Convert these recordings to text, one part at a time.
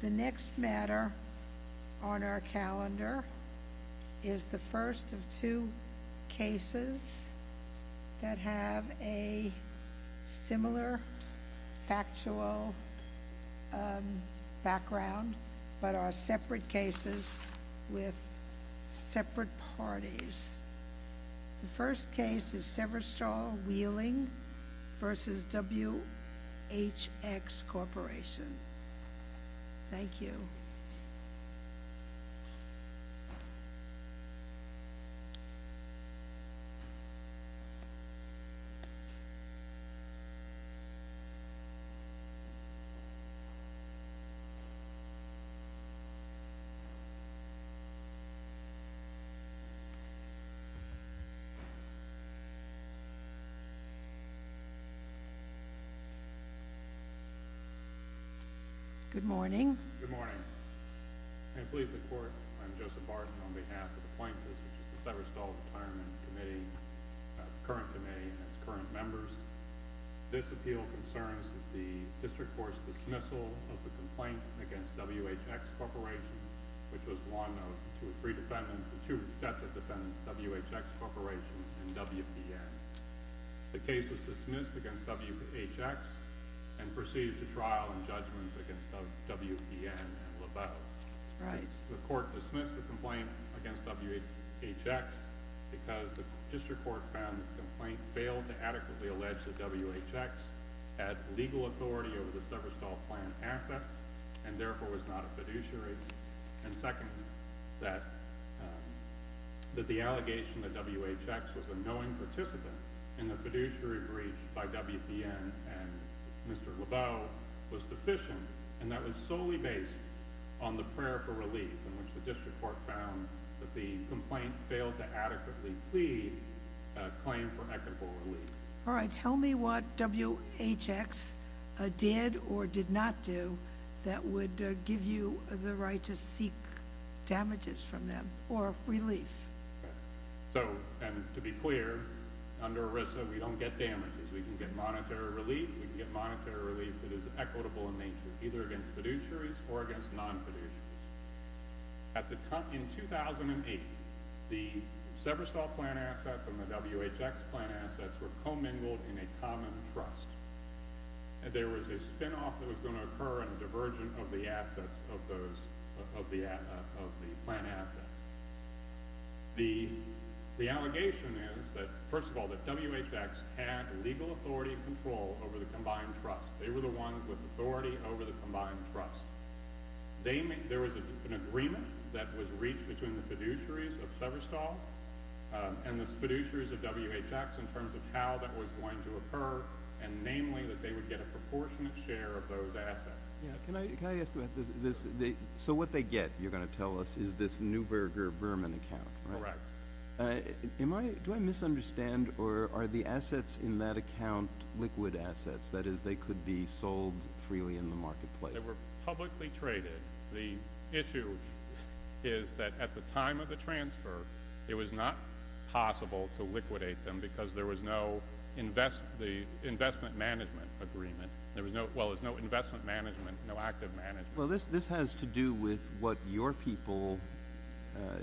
The next matter on our calendar is the first of two cases that have a similar factual background, but are separate cases with separate parties. The first case is Severstal Wheeling v. WHX Corporation. Thank you. Good morning. Good morning. And please report. I'm Joseph Barton on behalf of the Plaintiffs, which is the Severstal Retirement Committee, the current committee and its current members. This appeal concerns the district court's dismissal of the complaint against WHX Corporation, which was one of the two sets of defendants, WHX Corporation and WPN. The case was dismissed against WHX and proceeded to trial and judgments against WPN and Leveaux. The court dismissed the complaint against WHX because the district court found that the complaint failed to adequately allege that WHX had legal authority over the Severstal plant assets and therefore was not a fiduciary, and secondly, that the allegation that WHX was a knowing participant in the fiduciary breach by WPN and Mr. Leveaux was sufficient, and that was solely based on the prayer for relief in which the district court found that the complaint failed to adequately plead a claim for equitable relief. All right. Tell me what WHX did or did not do that would give you the right to seek damages from them or relief. So, and to be clear, under ERISA, we don't get damages. We can get monetary relief. We can get monetary relief that is equitable in nature, either against fiduciaries or against non-fiduciaries. At the time, in 2008, the Severstal plant assets and the WHX plant assets were commingled in a common trust. There was a spinoff that was going to occur in a divergent of the assets of those, of the plant assets. The allegation is that, first of all, that WHX had legal authority and control over the combined trust. They were the ones with authority over the combined trust. There was an agreement that was reached between the fiduciaries of Severstal and the fiduciaries of WHX in terms of how that was going to occur, and namely that they would get a proportionate share of those assets. Can I ask about this? So what they get, you're going to tell us, is this Neuberger-Berman account, right? Correct. Do I misunderstand, or are the assets in that account liquid assets? That is, they could be sold freely in the marketplace? They were publicly traded. The issue is that at the time of the transfer, it was not possible to liquidate them because there was no investment management agreement. Well, there was no investment management, no active management. Well, this has to do with what your people,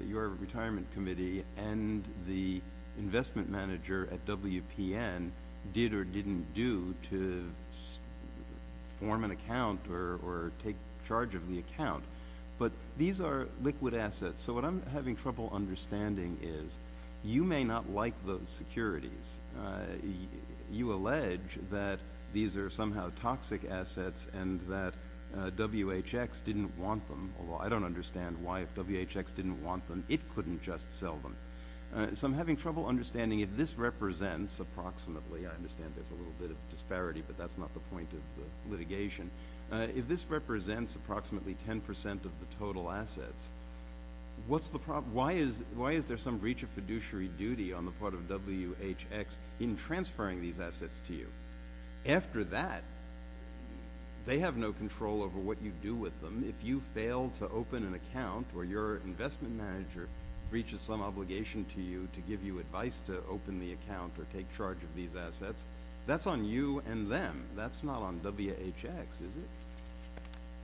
your retirement committee, and the investment manager at WPN did or didn't do to form an account or take charge of the account. But these are liquid assets. So what I'm having trouble understanding is you may not like those securities. You allege that these are somehow toxic assets and that WHX didn't want them, although I don't understand why. If WHX didn't want them, it couldn't just sell them. So I'm having trouble understanding if this represents approximately— I understand there's a little bit of disparity, but that's not the point of the litigation. If this represents approximately 10% of the total assets, why is there some breach of fiduciary duty on the part of WHX in transferring these assets to you? After that, they have no control over what you do with them. If you fail to open an account or your investment manager breaches some obligation to you to give you advice to open the account or take charge of these assets, that's on you and them. That's not on WHX, is it?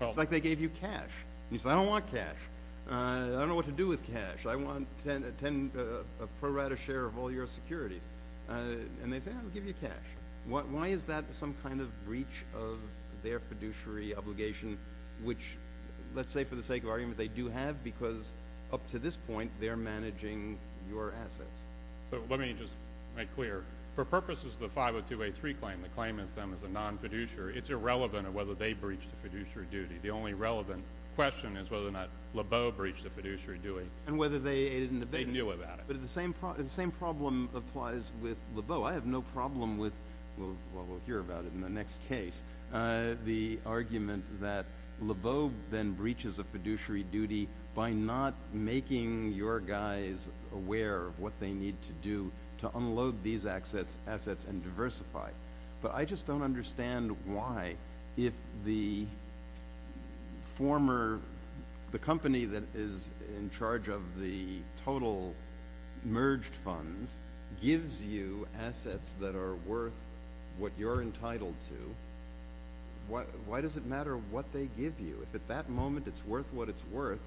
It's like they gave you cash. You say, I don't want cash. I don't know what to do with cash. I want a pro rata share of all your securities. And they say, I'll give you cash. Why is that some kind of breach of their fiduciary obligation, which let's say for the sake of argument they do have because up to this point they're managing your assets? Let me just make clear. For purposes of the 502A3 claim, the claim is them as a non-fiduciary. It's irrelevant of whether they breached the fiduciary duty. The only relevant question is whether or not Lebeau breached the fiduciary duty. And whether they— They knew about it. But the same problem applies with Lebeau. I have no problem with—well, we'll hear about it in the next case. The argument that Lebeau then breaches a fiduciary duty by not making your guys aware of what they need to do to unload these assets and diversify. But I just don't understand why if the former—the company that is in charge of the total merged funds gives you assets that are worth what you're entitled to, why does it matter what they give you? If at that moment it's worth what it's worth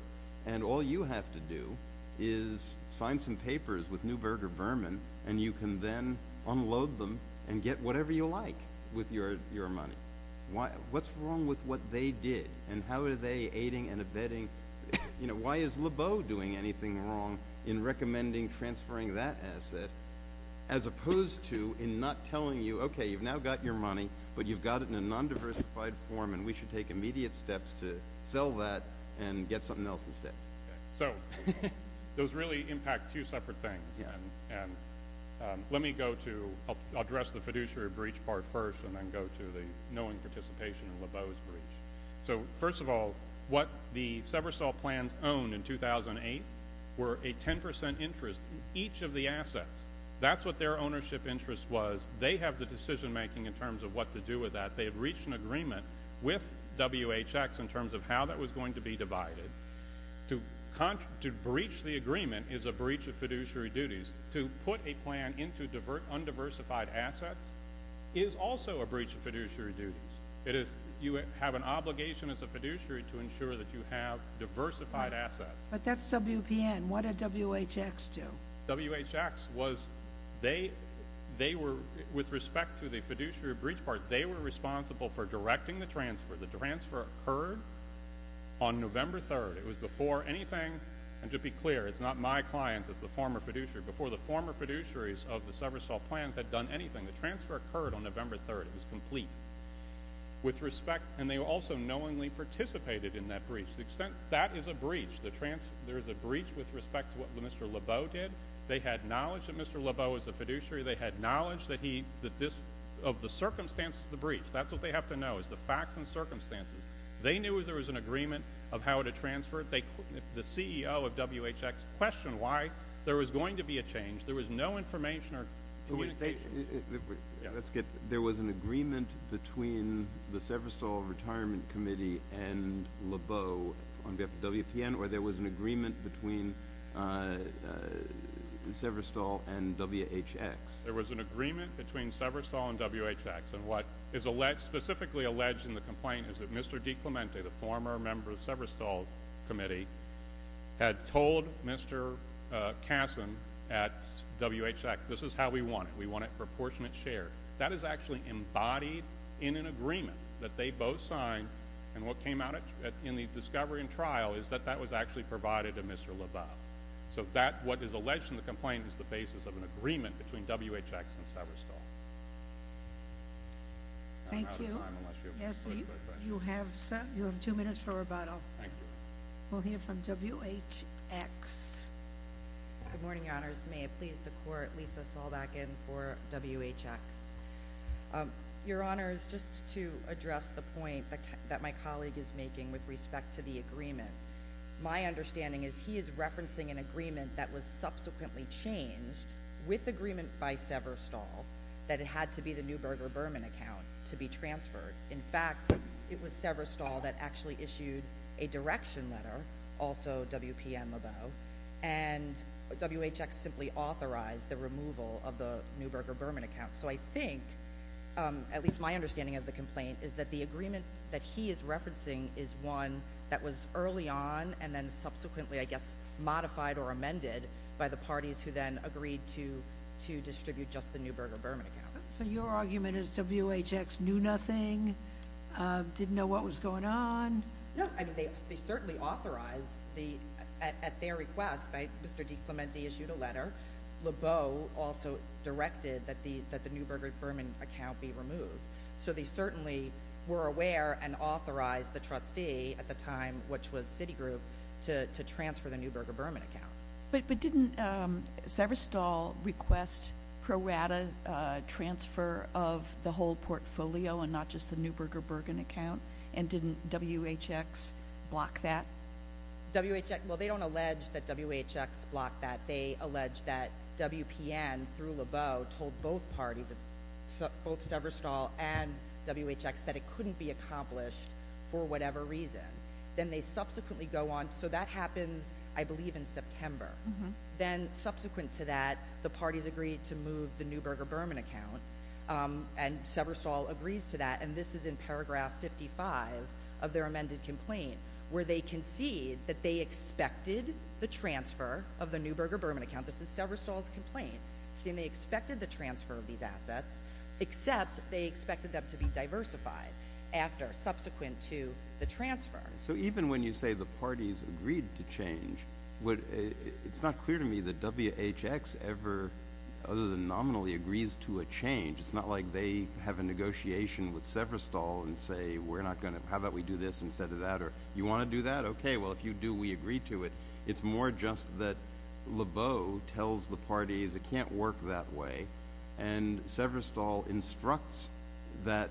and all you have to do is sign some papers with Newberg or Berman, and you can then unload them and get whatever you like with your money, what's wrong with what they did? And how are they aiding and abetting? Why is Lebeau doing anything wrong in recommending transferring that asset as opposed to in not telling you, okay, you've now got your money, but you've got it in a non-diversified form, and we should take immediate steps to sell that and get something else instead? So those really impact two separate things. And let me go to—I'll address the fiduciary breach part first and then go to the knowing participation in Lebeau's breach. So, first of all, what the Seversol plans owned in 2008 were a 10 percent interest in each of the assets. That's what their ownership interest was. They have the decision-making in terms of what to do with that. They had reached an agreement with WHX in terms of how that was going to be divided. To breach the agreement is a breach of fiduciary duties. To put a plan into undiversified assets is also a breach of fiduciary duties. You have an obligation as a fiduciary to ensure that you have diversified assets. But that's WPN. What did WHX do? WHX was—with respect to the fiduciary breach part, they were responsible for directing the transfer. The transfer occurred on November 3rd. It was before anything—and to be clear, it's not my clients. It's the former fiduciary. Before the former fiduciaries of the Seversol plans had done anything, the transfer occurred on November 3rd. It was complete. With respect—and they also knowingly participated in that breach. The extent—that is a breach. There is a breach with respect to what Mr. Lebeau did. They had knowledge that Mr. Lebeau was a fiduciary. They had knowledge that he—of the circumstances of the breach. That's what they have to know is the facts and circumstances. They knew there was an agreement of how to transfer. The CEO of WHX questioned why there was going to be a change. There was no information or communication. There was an agreement between the Seversol Retirement Committee and Lebeau on WPN, or there was an agreement between Seversol and WHX? There was an agreement between Seversol and WHX. And what is specifically alleged in the complaint is that Mr. DiClemente, the former member of Seversol Committee, had told Mr. Kassin at WHX, this is how we want it. We want it proportionate share. That is actually embodied in an agreement that they both signed, and what came out in the discovery and trial is that that was actually provided to Mr. Lebeau. So what is alleged in the complaint is the basis of an agreement between WHX and Seversol. Thank you. You have two minutes for rebuttal. Thank you. We'll hear from WHX. Good morning, Your Honors. May it please the Court, Lisa Saulbacken for WHX. Your Honors, just to address the point that my colleague is making with respect to the agreement, my understanding is he is referencing an agreement that was subsequently changed with agreement by Seversol that it had to be the Neuberger-Berman account to be transferred. In fact, it was Seversol that actually issued a direction letter, also WPN-Lebeau, and WHX simply authorized the removal of the Neuberger-Berman account. So I think, at least my understanding of the complaint, is that the agreement that he is referencing is one that was early on and then subsequently, I guess, modified or amended by the parties who then agreed to distribute just the Neuberger-Berman account. So your argument is WHX knew nothing, didn't know what was going on? No. They certainly authorized, at their request, Mr. DiClemente issued a letter. Lebeau also directed that the Neuberger-Berman account be removed. So they certainly were aware and authorized the trustee at the time, which was Citigroup, to transfer the Neuberger-Berman account. But didn't Seversol request pro rata transfer of the whole portfolio and not just the Neuberger-Berman account, and didn't WHX block that? Well, they don't allege that WHX blocked that. They allege that WPN, through Lebeau, told both parties, both Seversol and WHX, that it couldn't be accomplished for whatever reason. Then they subsequently go on. So that happens, I believe, in September. Then, subsequent to that, the parties agree to move the Neuberger-Berman account, and Seversol agrees to that. And this is in paragraph 55 of their amended complaint, where they concede that they expected the transfer of the Neuberger-Berman account. This is Seversol's complaint, saying they expected the transfer of these assets, except they expected them to be diversified subsequent to the transfer. So even when you say the parties agreed to change, it's not clear to me that WHX ever, other than nominally, agrees to a change. It's not like they have a negotiation with Seversol and say, how about we do this instead of that, or you want to do that? Okay, well, if you do, we agree to it. It's more just that Lebeau tells the parties it can't work that way, and Seversol instructs that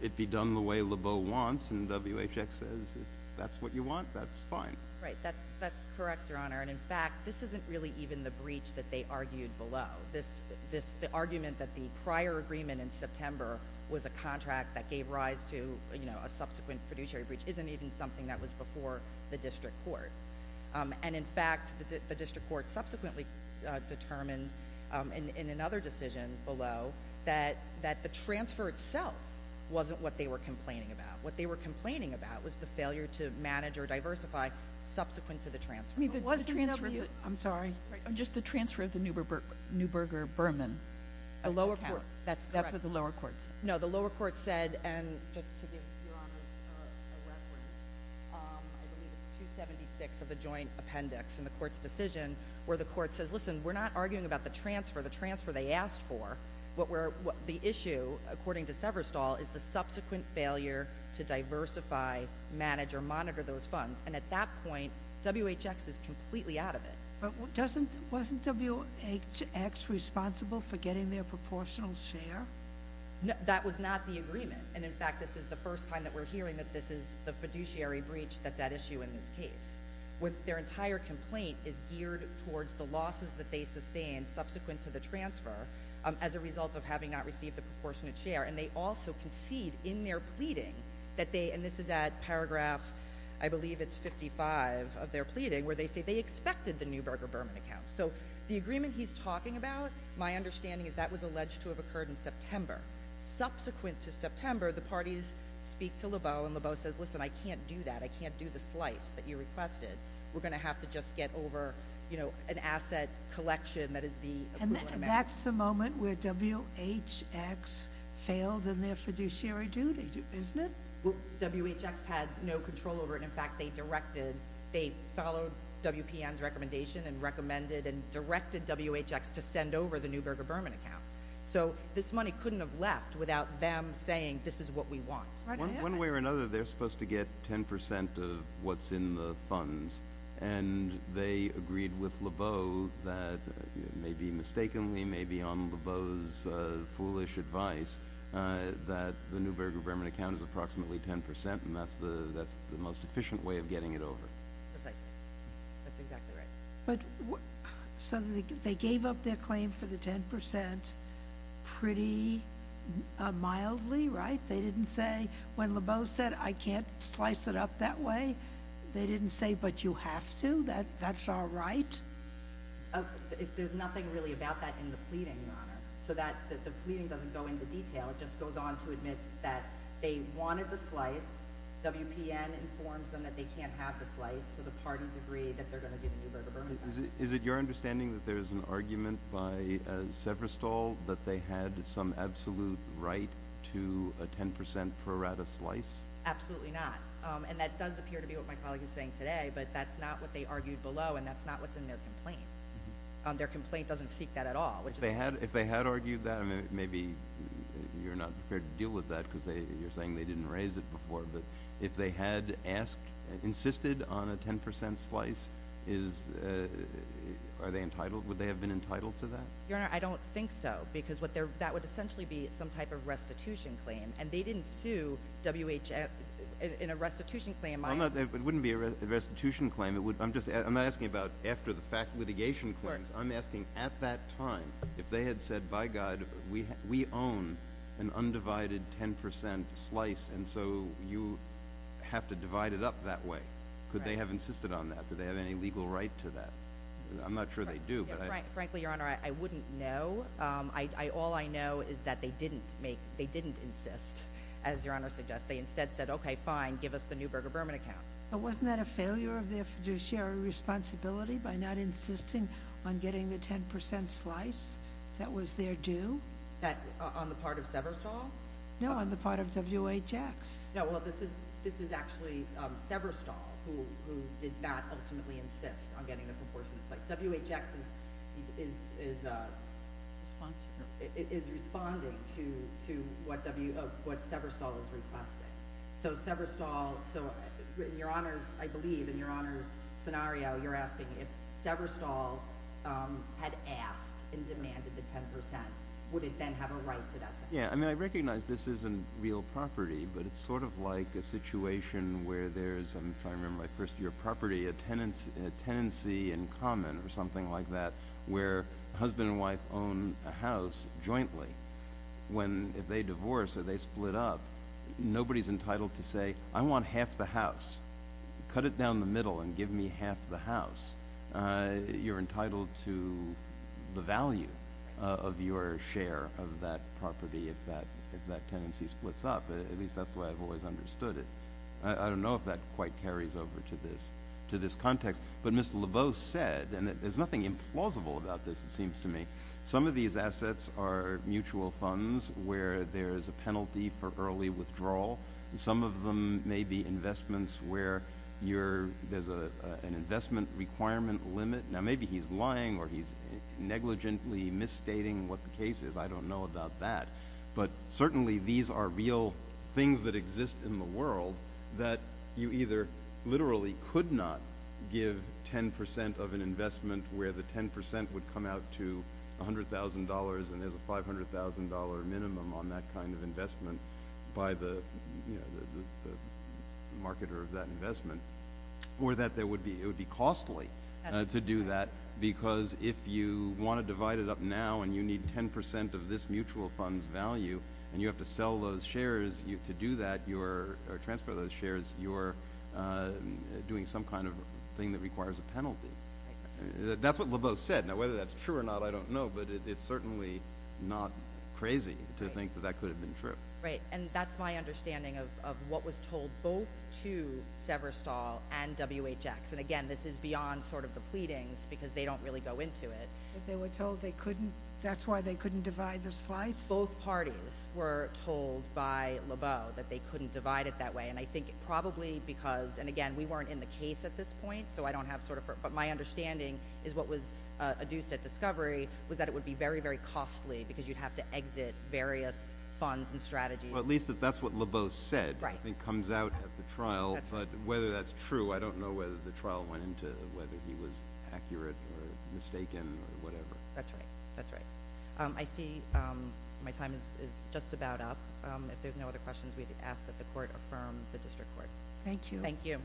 it be done the way Lebeau wants, and WHX says, if that's what you want, that's fine. Right, that's correct, Your Honor. And, in fact, this isn't really even the breach that they argued below. The argument that the prior agreement in September was a contract that gave rise to a subsequent fiduciary breach isn't even something that was before the district court. And, in fact, the district court subsequently determined in another decision below that the transfer itself wasn't what they were complaining about. What they were complaining about was the failure to manage or diversify subsequent to the transfer. I'm sorry, just the transfer of the Neuberger Berman. The lower court, that's correct. That's what the lower court said. No, the lower court said, and just to give Your Honor a reference, I believe it's 276 of the joint appendix in the court's decision where the court says, listen, we're not arguing about the transfer, the transfer they asked for. The issue, according to Seversol, is the subsequent failure to diversify, manage, or monitor those funds. And, at that point, WHX is completely out of it. But wasn't WHX responsible for getting their proportional share? That was not the agreement. And, in fact, this is the first time that we're hearing that this is the fiduciary breach that's at issue in this case. Their entire complaint is geared towards the losses that they sustained subsequent to the transfer as a result of having not received a proportionate share. And they also concede in their pleading that they, and this is at paragraph, I believe it's 55 of their pleading, where they say they expected the Neuberger Berman account. So the agreement he's talking about, my understanding is that was alleged to have occurred in September. Subsequent to September, the parties speak to Lebeau, and Lebeau says, listen, I can't do that. I can't do the slice that you requested. We're going to have to just get over an asset collection that is the equivalent amount. And that's the moment where WHX failed in their fiduciary duty, isn't it? Well, WHX had no control over it. In fact, they directed, they followed WPN's recommendation and recommended and directed WHX to send over the Neuberger Berman account. So this money couldn't have left without them saying this is what we want. One way or another, they're supposed to get 10 percent of what's in the funds, and they agreed with Lebeau that, maybe mistakenly, maybe on Lebeau's foolish advice, that the Neuberger Berman account is approximately 10 percent, and that's the most efficient way of getting it over. Precisely. That's exactly right. So they gave up their claim for the 10 percent pretty mildly, right? They didn't say, when Lebeau said, I can't slice it up that way, they didn't say, but you have to? That's all right? There's nothing really about that in the pleading, Your Honor. So the pleading doesn't go into detail. WPN informs them that they can't have the slice, so the parties agree that they're going to do the Neuberger Berman account. Is it your understanding that there is an argument by Severstall that they had some absolute right to a 10 percent pro rata slice? Absolutely not. And that does appear to be what my colleague is saying today, but that's not what they argued below, and that's not what's in their complaint. Their complaint doesn't seek that at all. If they had argued that, maybe you're not prepared to deal with that because you're saying they didn't raise it before, but if they had asked, insisted on a 10 percent slice, are they entitled, would they have been entitled to that? Your Honor, I don't think so because that would essentially be some type of restitution claim, and they didn't sue WHF in a restitution claim. It wouldn't be a restitution claim. I'm not asking about after the litigation claims. I'm asking at that time if they had said, by God, we own an undivided 10 percent slice, and so you have to divide it up that way, could they have insisted on that? Did they have any legal right to that? I'm not sure they do. Frankly, Your Honor, I wouldn't know. All I know is that they didn't insist, as Your Honor suggests. They instead said, okay, fine, give us the Neuberger Berman account. So wasn't that a failure of their fiduciary responsibility by not insisting on getting the 10 percent slice? That was their due? On the part of Severstall? No, on the part of WHX. No, well, this is actually Severstall who did not ultimately insist on getting the proportionate slice. WHX is responding to what Severstall is requesting. So Severstall, so in Your Honor's, I believe, in Your Honor's scenario, you're asking if Severstall had asked and demanded the 10 percent, would it then have a right to that 10 percent? Yeah, I mean I recognize this isn't real property, but it's sort of like a situation where there's, if I remember my first year of property, a tenancy in common or something like that where husband and wife own a house jointly. If they divorce or they split up, nobody's entitled to say, I want half the house. Cut it down the middle and give me half the house. You're entitled to the value of your share of that property if that tenancy splits up. At least that's the way I've always understood it. I don't know if that quite carries over to this context. But Mr. LeBeau said, and there's nothing implausible about this, it seems to me, some of these assets are mutual funds where there's a penalty for early withdrawal. Some of them may be investments where there's an investment requirement limit. Now maybe he's lying or he's negligently misstating what the case is. I don't know about that. But certainly these are real things that exist in the world that you either literally could not give 10% of an investment where the 10% would come out to $100,000 and there's a $500,000 minimum on that kind of investment by the marketer of that investment or that it would be costly to do that because if you want to divide it up now and you need 10% of this mutual fund's value and you have to sell those shares to do that or transfer those shares, you're doing some kind of thing that requires a penalty. That's what LeBeau said. Now whether that's true or not, I don't know. But it's certainly not crazy to think that that could have been true. Right, and that's my understanding of what was told both to Severstall and WHX. And again, this is beyond sort of the pleadings because they don't really go into it. But they were told they couldn't? That's why they couldn't divide the slice? Both parties were told by LeBeau that they couldn't divide it that way. And I think probably because, and again, we weren't in the case at this point, but my understanding is what was adduced at Discovery was that it would be very, very costly because you'd have to exit various funds and strategies. Well, at least that's what LeBeau said, I think, comes out at the trial. But whether that's true, I don't know whether the trial went into it, whether he was accurate or mistaken or whatever. That's right. That's right. I see my time is just about up. If there's no other questions, we'd ask that the Court affirm the District Court. Thank you. Thank you.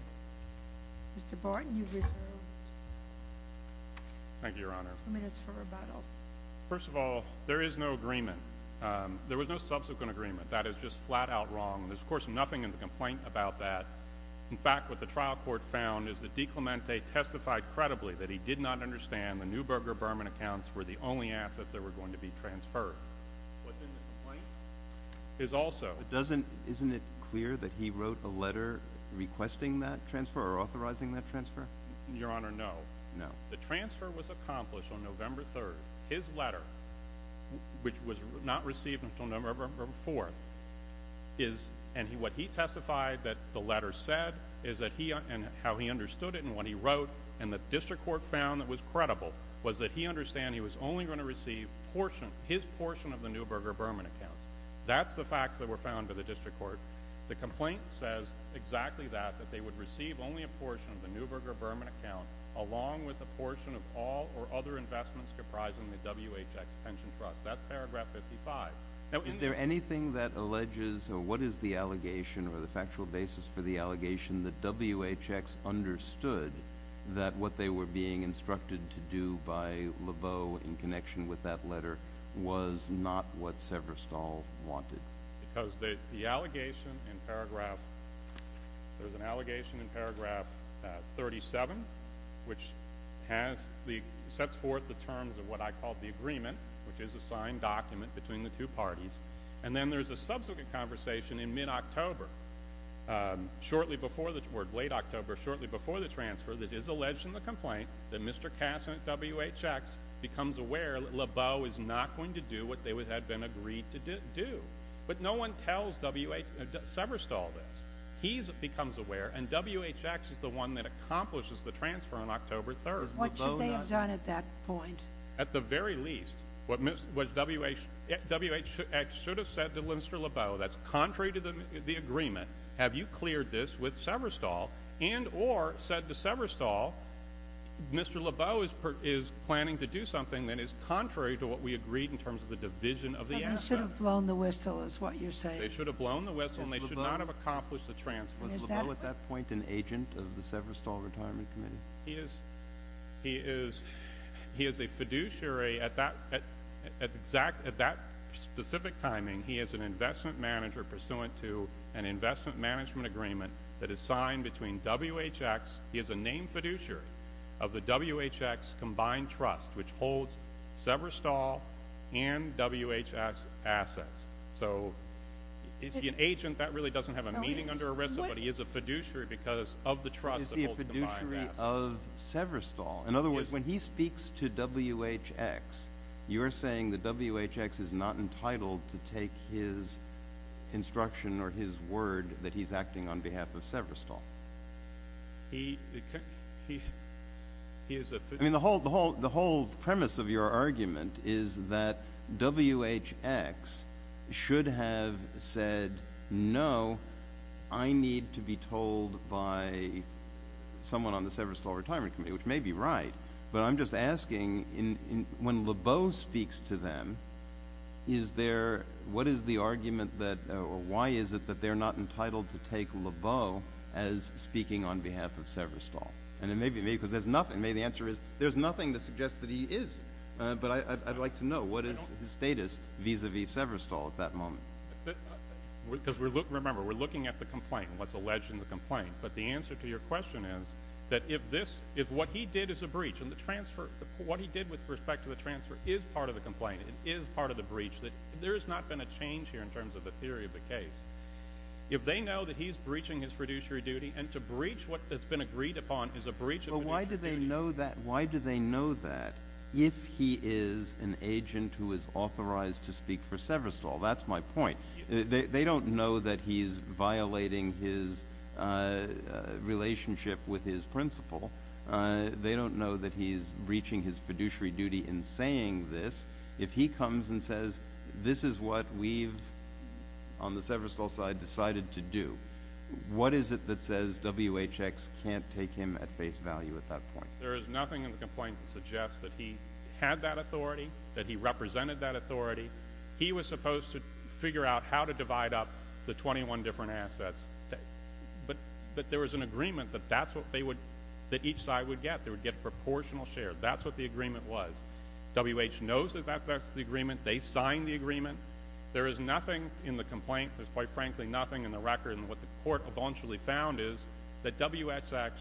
Mr. Barton, you've reserved two minutes for rebuttal. Thank you, Your Honor. First of all, there is no agreement. There was no subsequent agreement. That is just flat out wrong. There's, of course, nothing in the complaint about that. In fact, what the trial court found is that DiClemente testified credibly that he did not understand the Neuberger-Berman accounts were the only assets that were going to be transferred. What's in the complaint is also – Isn't it clear that he wrote a letter requesting that transfer or authorizing that transfer? Your Honor, no. No. The transfer was accomplished on November 3rd. His letter, which was not received until November 4th, and what he testified that the letter said and how he understood it and what he wrote and the District Court found that was credible, was that he understood he was only going to receive his portion of the Neuberger-Berman accounts. That's the facts that were found by the District Court. The complaint says exactly that, that they would receive only a portion of the Neuberger-Berman account along with a portion of all or other investments comprising the WHX Pension Trust. That's paragraph 55. Is there anything that alleges or what is the allegation or the factual basis for the allegation that WHX understood that what they were being instructed to do by Lebeau in connection with that letter was not what Severstall wanted? No, because the allegation in paragraph 37, which sets forth the terms of what I call the agreement, which is a signed document between the two parties, and then there's a subsequent conversation in mid-October, or late October, shortly before the transfer, that is alleged in the complaint that Mr. Kass and WHX becomes aware that Lebeau is not going to do what they had been agreed to do. But no one tells Severstall this. He becomes aware, and WHX is the one that accomplishes the transfer on October 3rd. What should they have done at that point? At the very least, WHX should have said to Mr. Lebeau, that's contrary to the agreement, have you cleared this with Severstall, and or said to Severstall, Mr. Lebeau is planning to do something that is contrary to what we agreed in terms of the division of the assets. They should have blown the whistle is what you're saying. They should have blown the whistle and they should not have accomplished the transfer. Was Lebeau at that point an agent of the Severstall Retirement Committee? He is a fiduciary. At that specific timing, he is an investment manager pursuant to an investment management agreement that is signed between WHX. He is a named fiduciary of the WHX Combined Trust, which holds Severstall and WHX assets. So, is he an agent? That really doesn't have a meaning under ERISA, but he is a fiduciary because of the trust that holds the combined assets. Is he a fiduciary of Severstall? In other words, when he speaks to WHX, you're saying that WHX is not entitled to take his instruction or his word that he's acting on behalf of Severstall. He is a fiduciary. I mean, the whole premise of your argument is that WHX should have said, no, I need to be told by someone on the Severstall Retirement Committee, which may be right, but I'm just asking, when Lebeau speaks to them, what is the argument, or why is it, that they're not entitled to take Lebeau as speaking on behalf of Severstall? And it may be because there's nothing. The answer is, there's nothing to suggest that he is. But I'd like to know, what is his status vis-à-vis Severstall at that moment? Remember, we're looking at the complaint, what's alleged in the complaint. But the answer to your question is that if what he did is a breach, and what he did with respect to the transfer is part of the complaint, it is part of the breach, that there has not been a change here in terms of the theory of the case. If they know that he's breaching his fiduciary duty, and to breach what has been agreed upon is a breach of fiduciary duty. But why do they know that? Why do they know that if he is an agent who is authorized to speak for Severstall? That's my point. They don't know that he's violating his relationship with his principal. They don't know that he's breaching his fiduciary duty in saying this. If he comes and says, this is what we've, on the Severstall side, decided to do, what is it that says WHX can't take him at face value at that point? There is nothing in the complaint that suggests that he had that authority, that he represented that authority. He was supposed to figure out how to divide up the 21 different assets. But there was an agreement that each side would get. They would get proportional share. That's what the agreement was. WH knows that that's the agreement. They signed the agreement. There is nothing in the complaint, there's quite frankly nothing in the record, and what the court eventually found is that WHX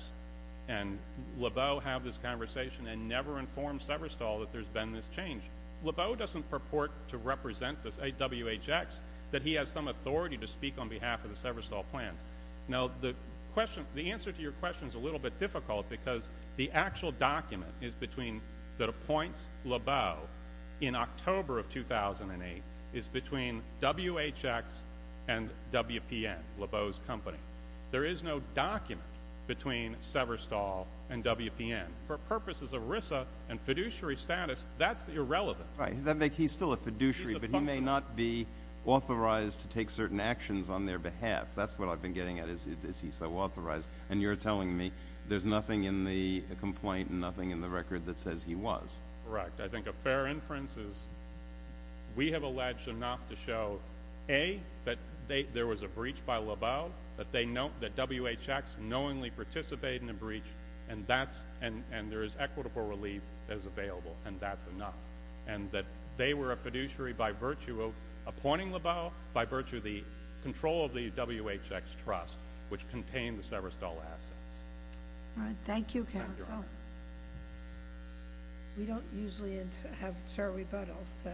and Lebeau have this conversation and never informed Severstall that there's been this change. Lebeau doesn't purport to represent this WHX, that he has some authority to speak on behalf of the Severstall plans. Now, the answer to your question is a little bit difficult because the actual document that appoints Lebeau in October of 2008 is between WHX and WPN, Lebeau's company. There is no document between Severstall and WPN. For purposes of RISA and fiduciary status, that's irrelevant. He's still a fiduciary, but he may not be authorized to take certain actions on their behalf. That's what I've been getting at, is he's so authorized. And you're telling me there's nothing in the complaint and nothing in the record that says he was. Correct. I think a fair inference is we have alleged enough to show, A, that there was a breach by Lebeau, that WHX knowingly participated in the breach, and there is equitable relief that is available, and that's enough, and that they were a fiduciary by virtue of appointing Lebeau, by virtue of the control of the WHX trust, which contained the Severstall assets. All right. Thank you, counsel. Thank you, Your Honor. We don't usually have short rebuttals, so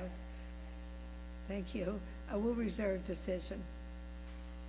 thank you. We'll reserve decision.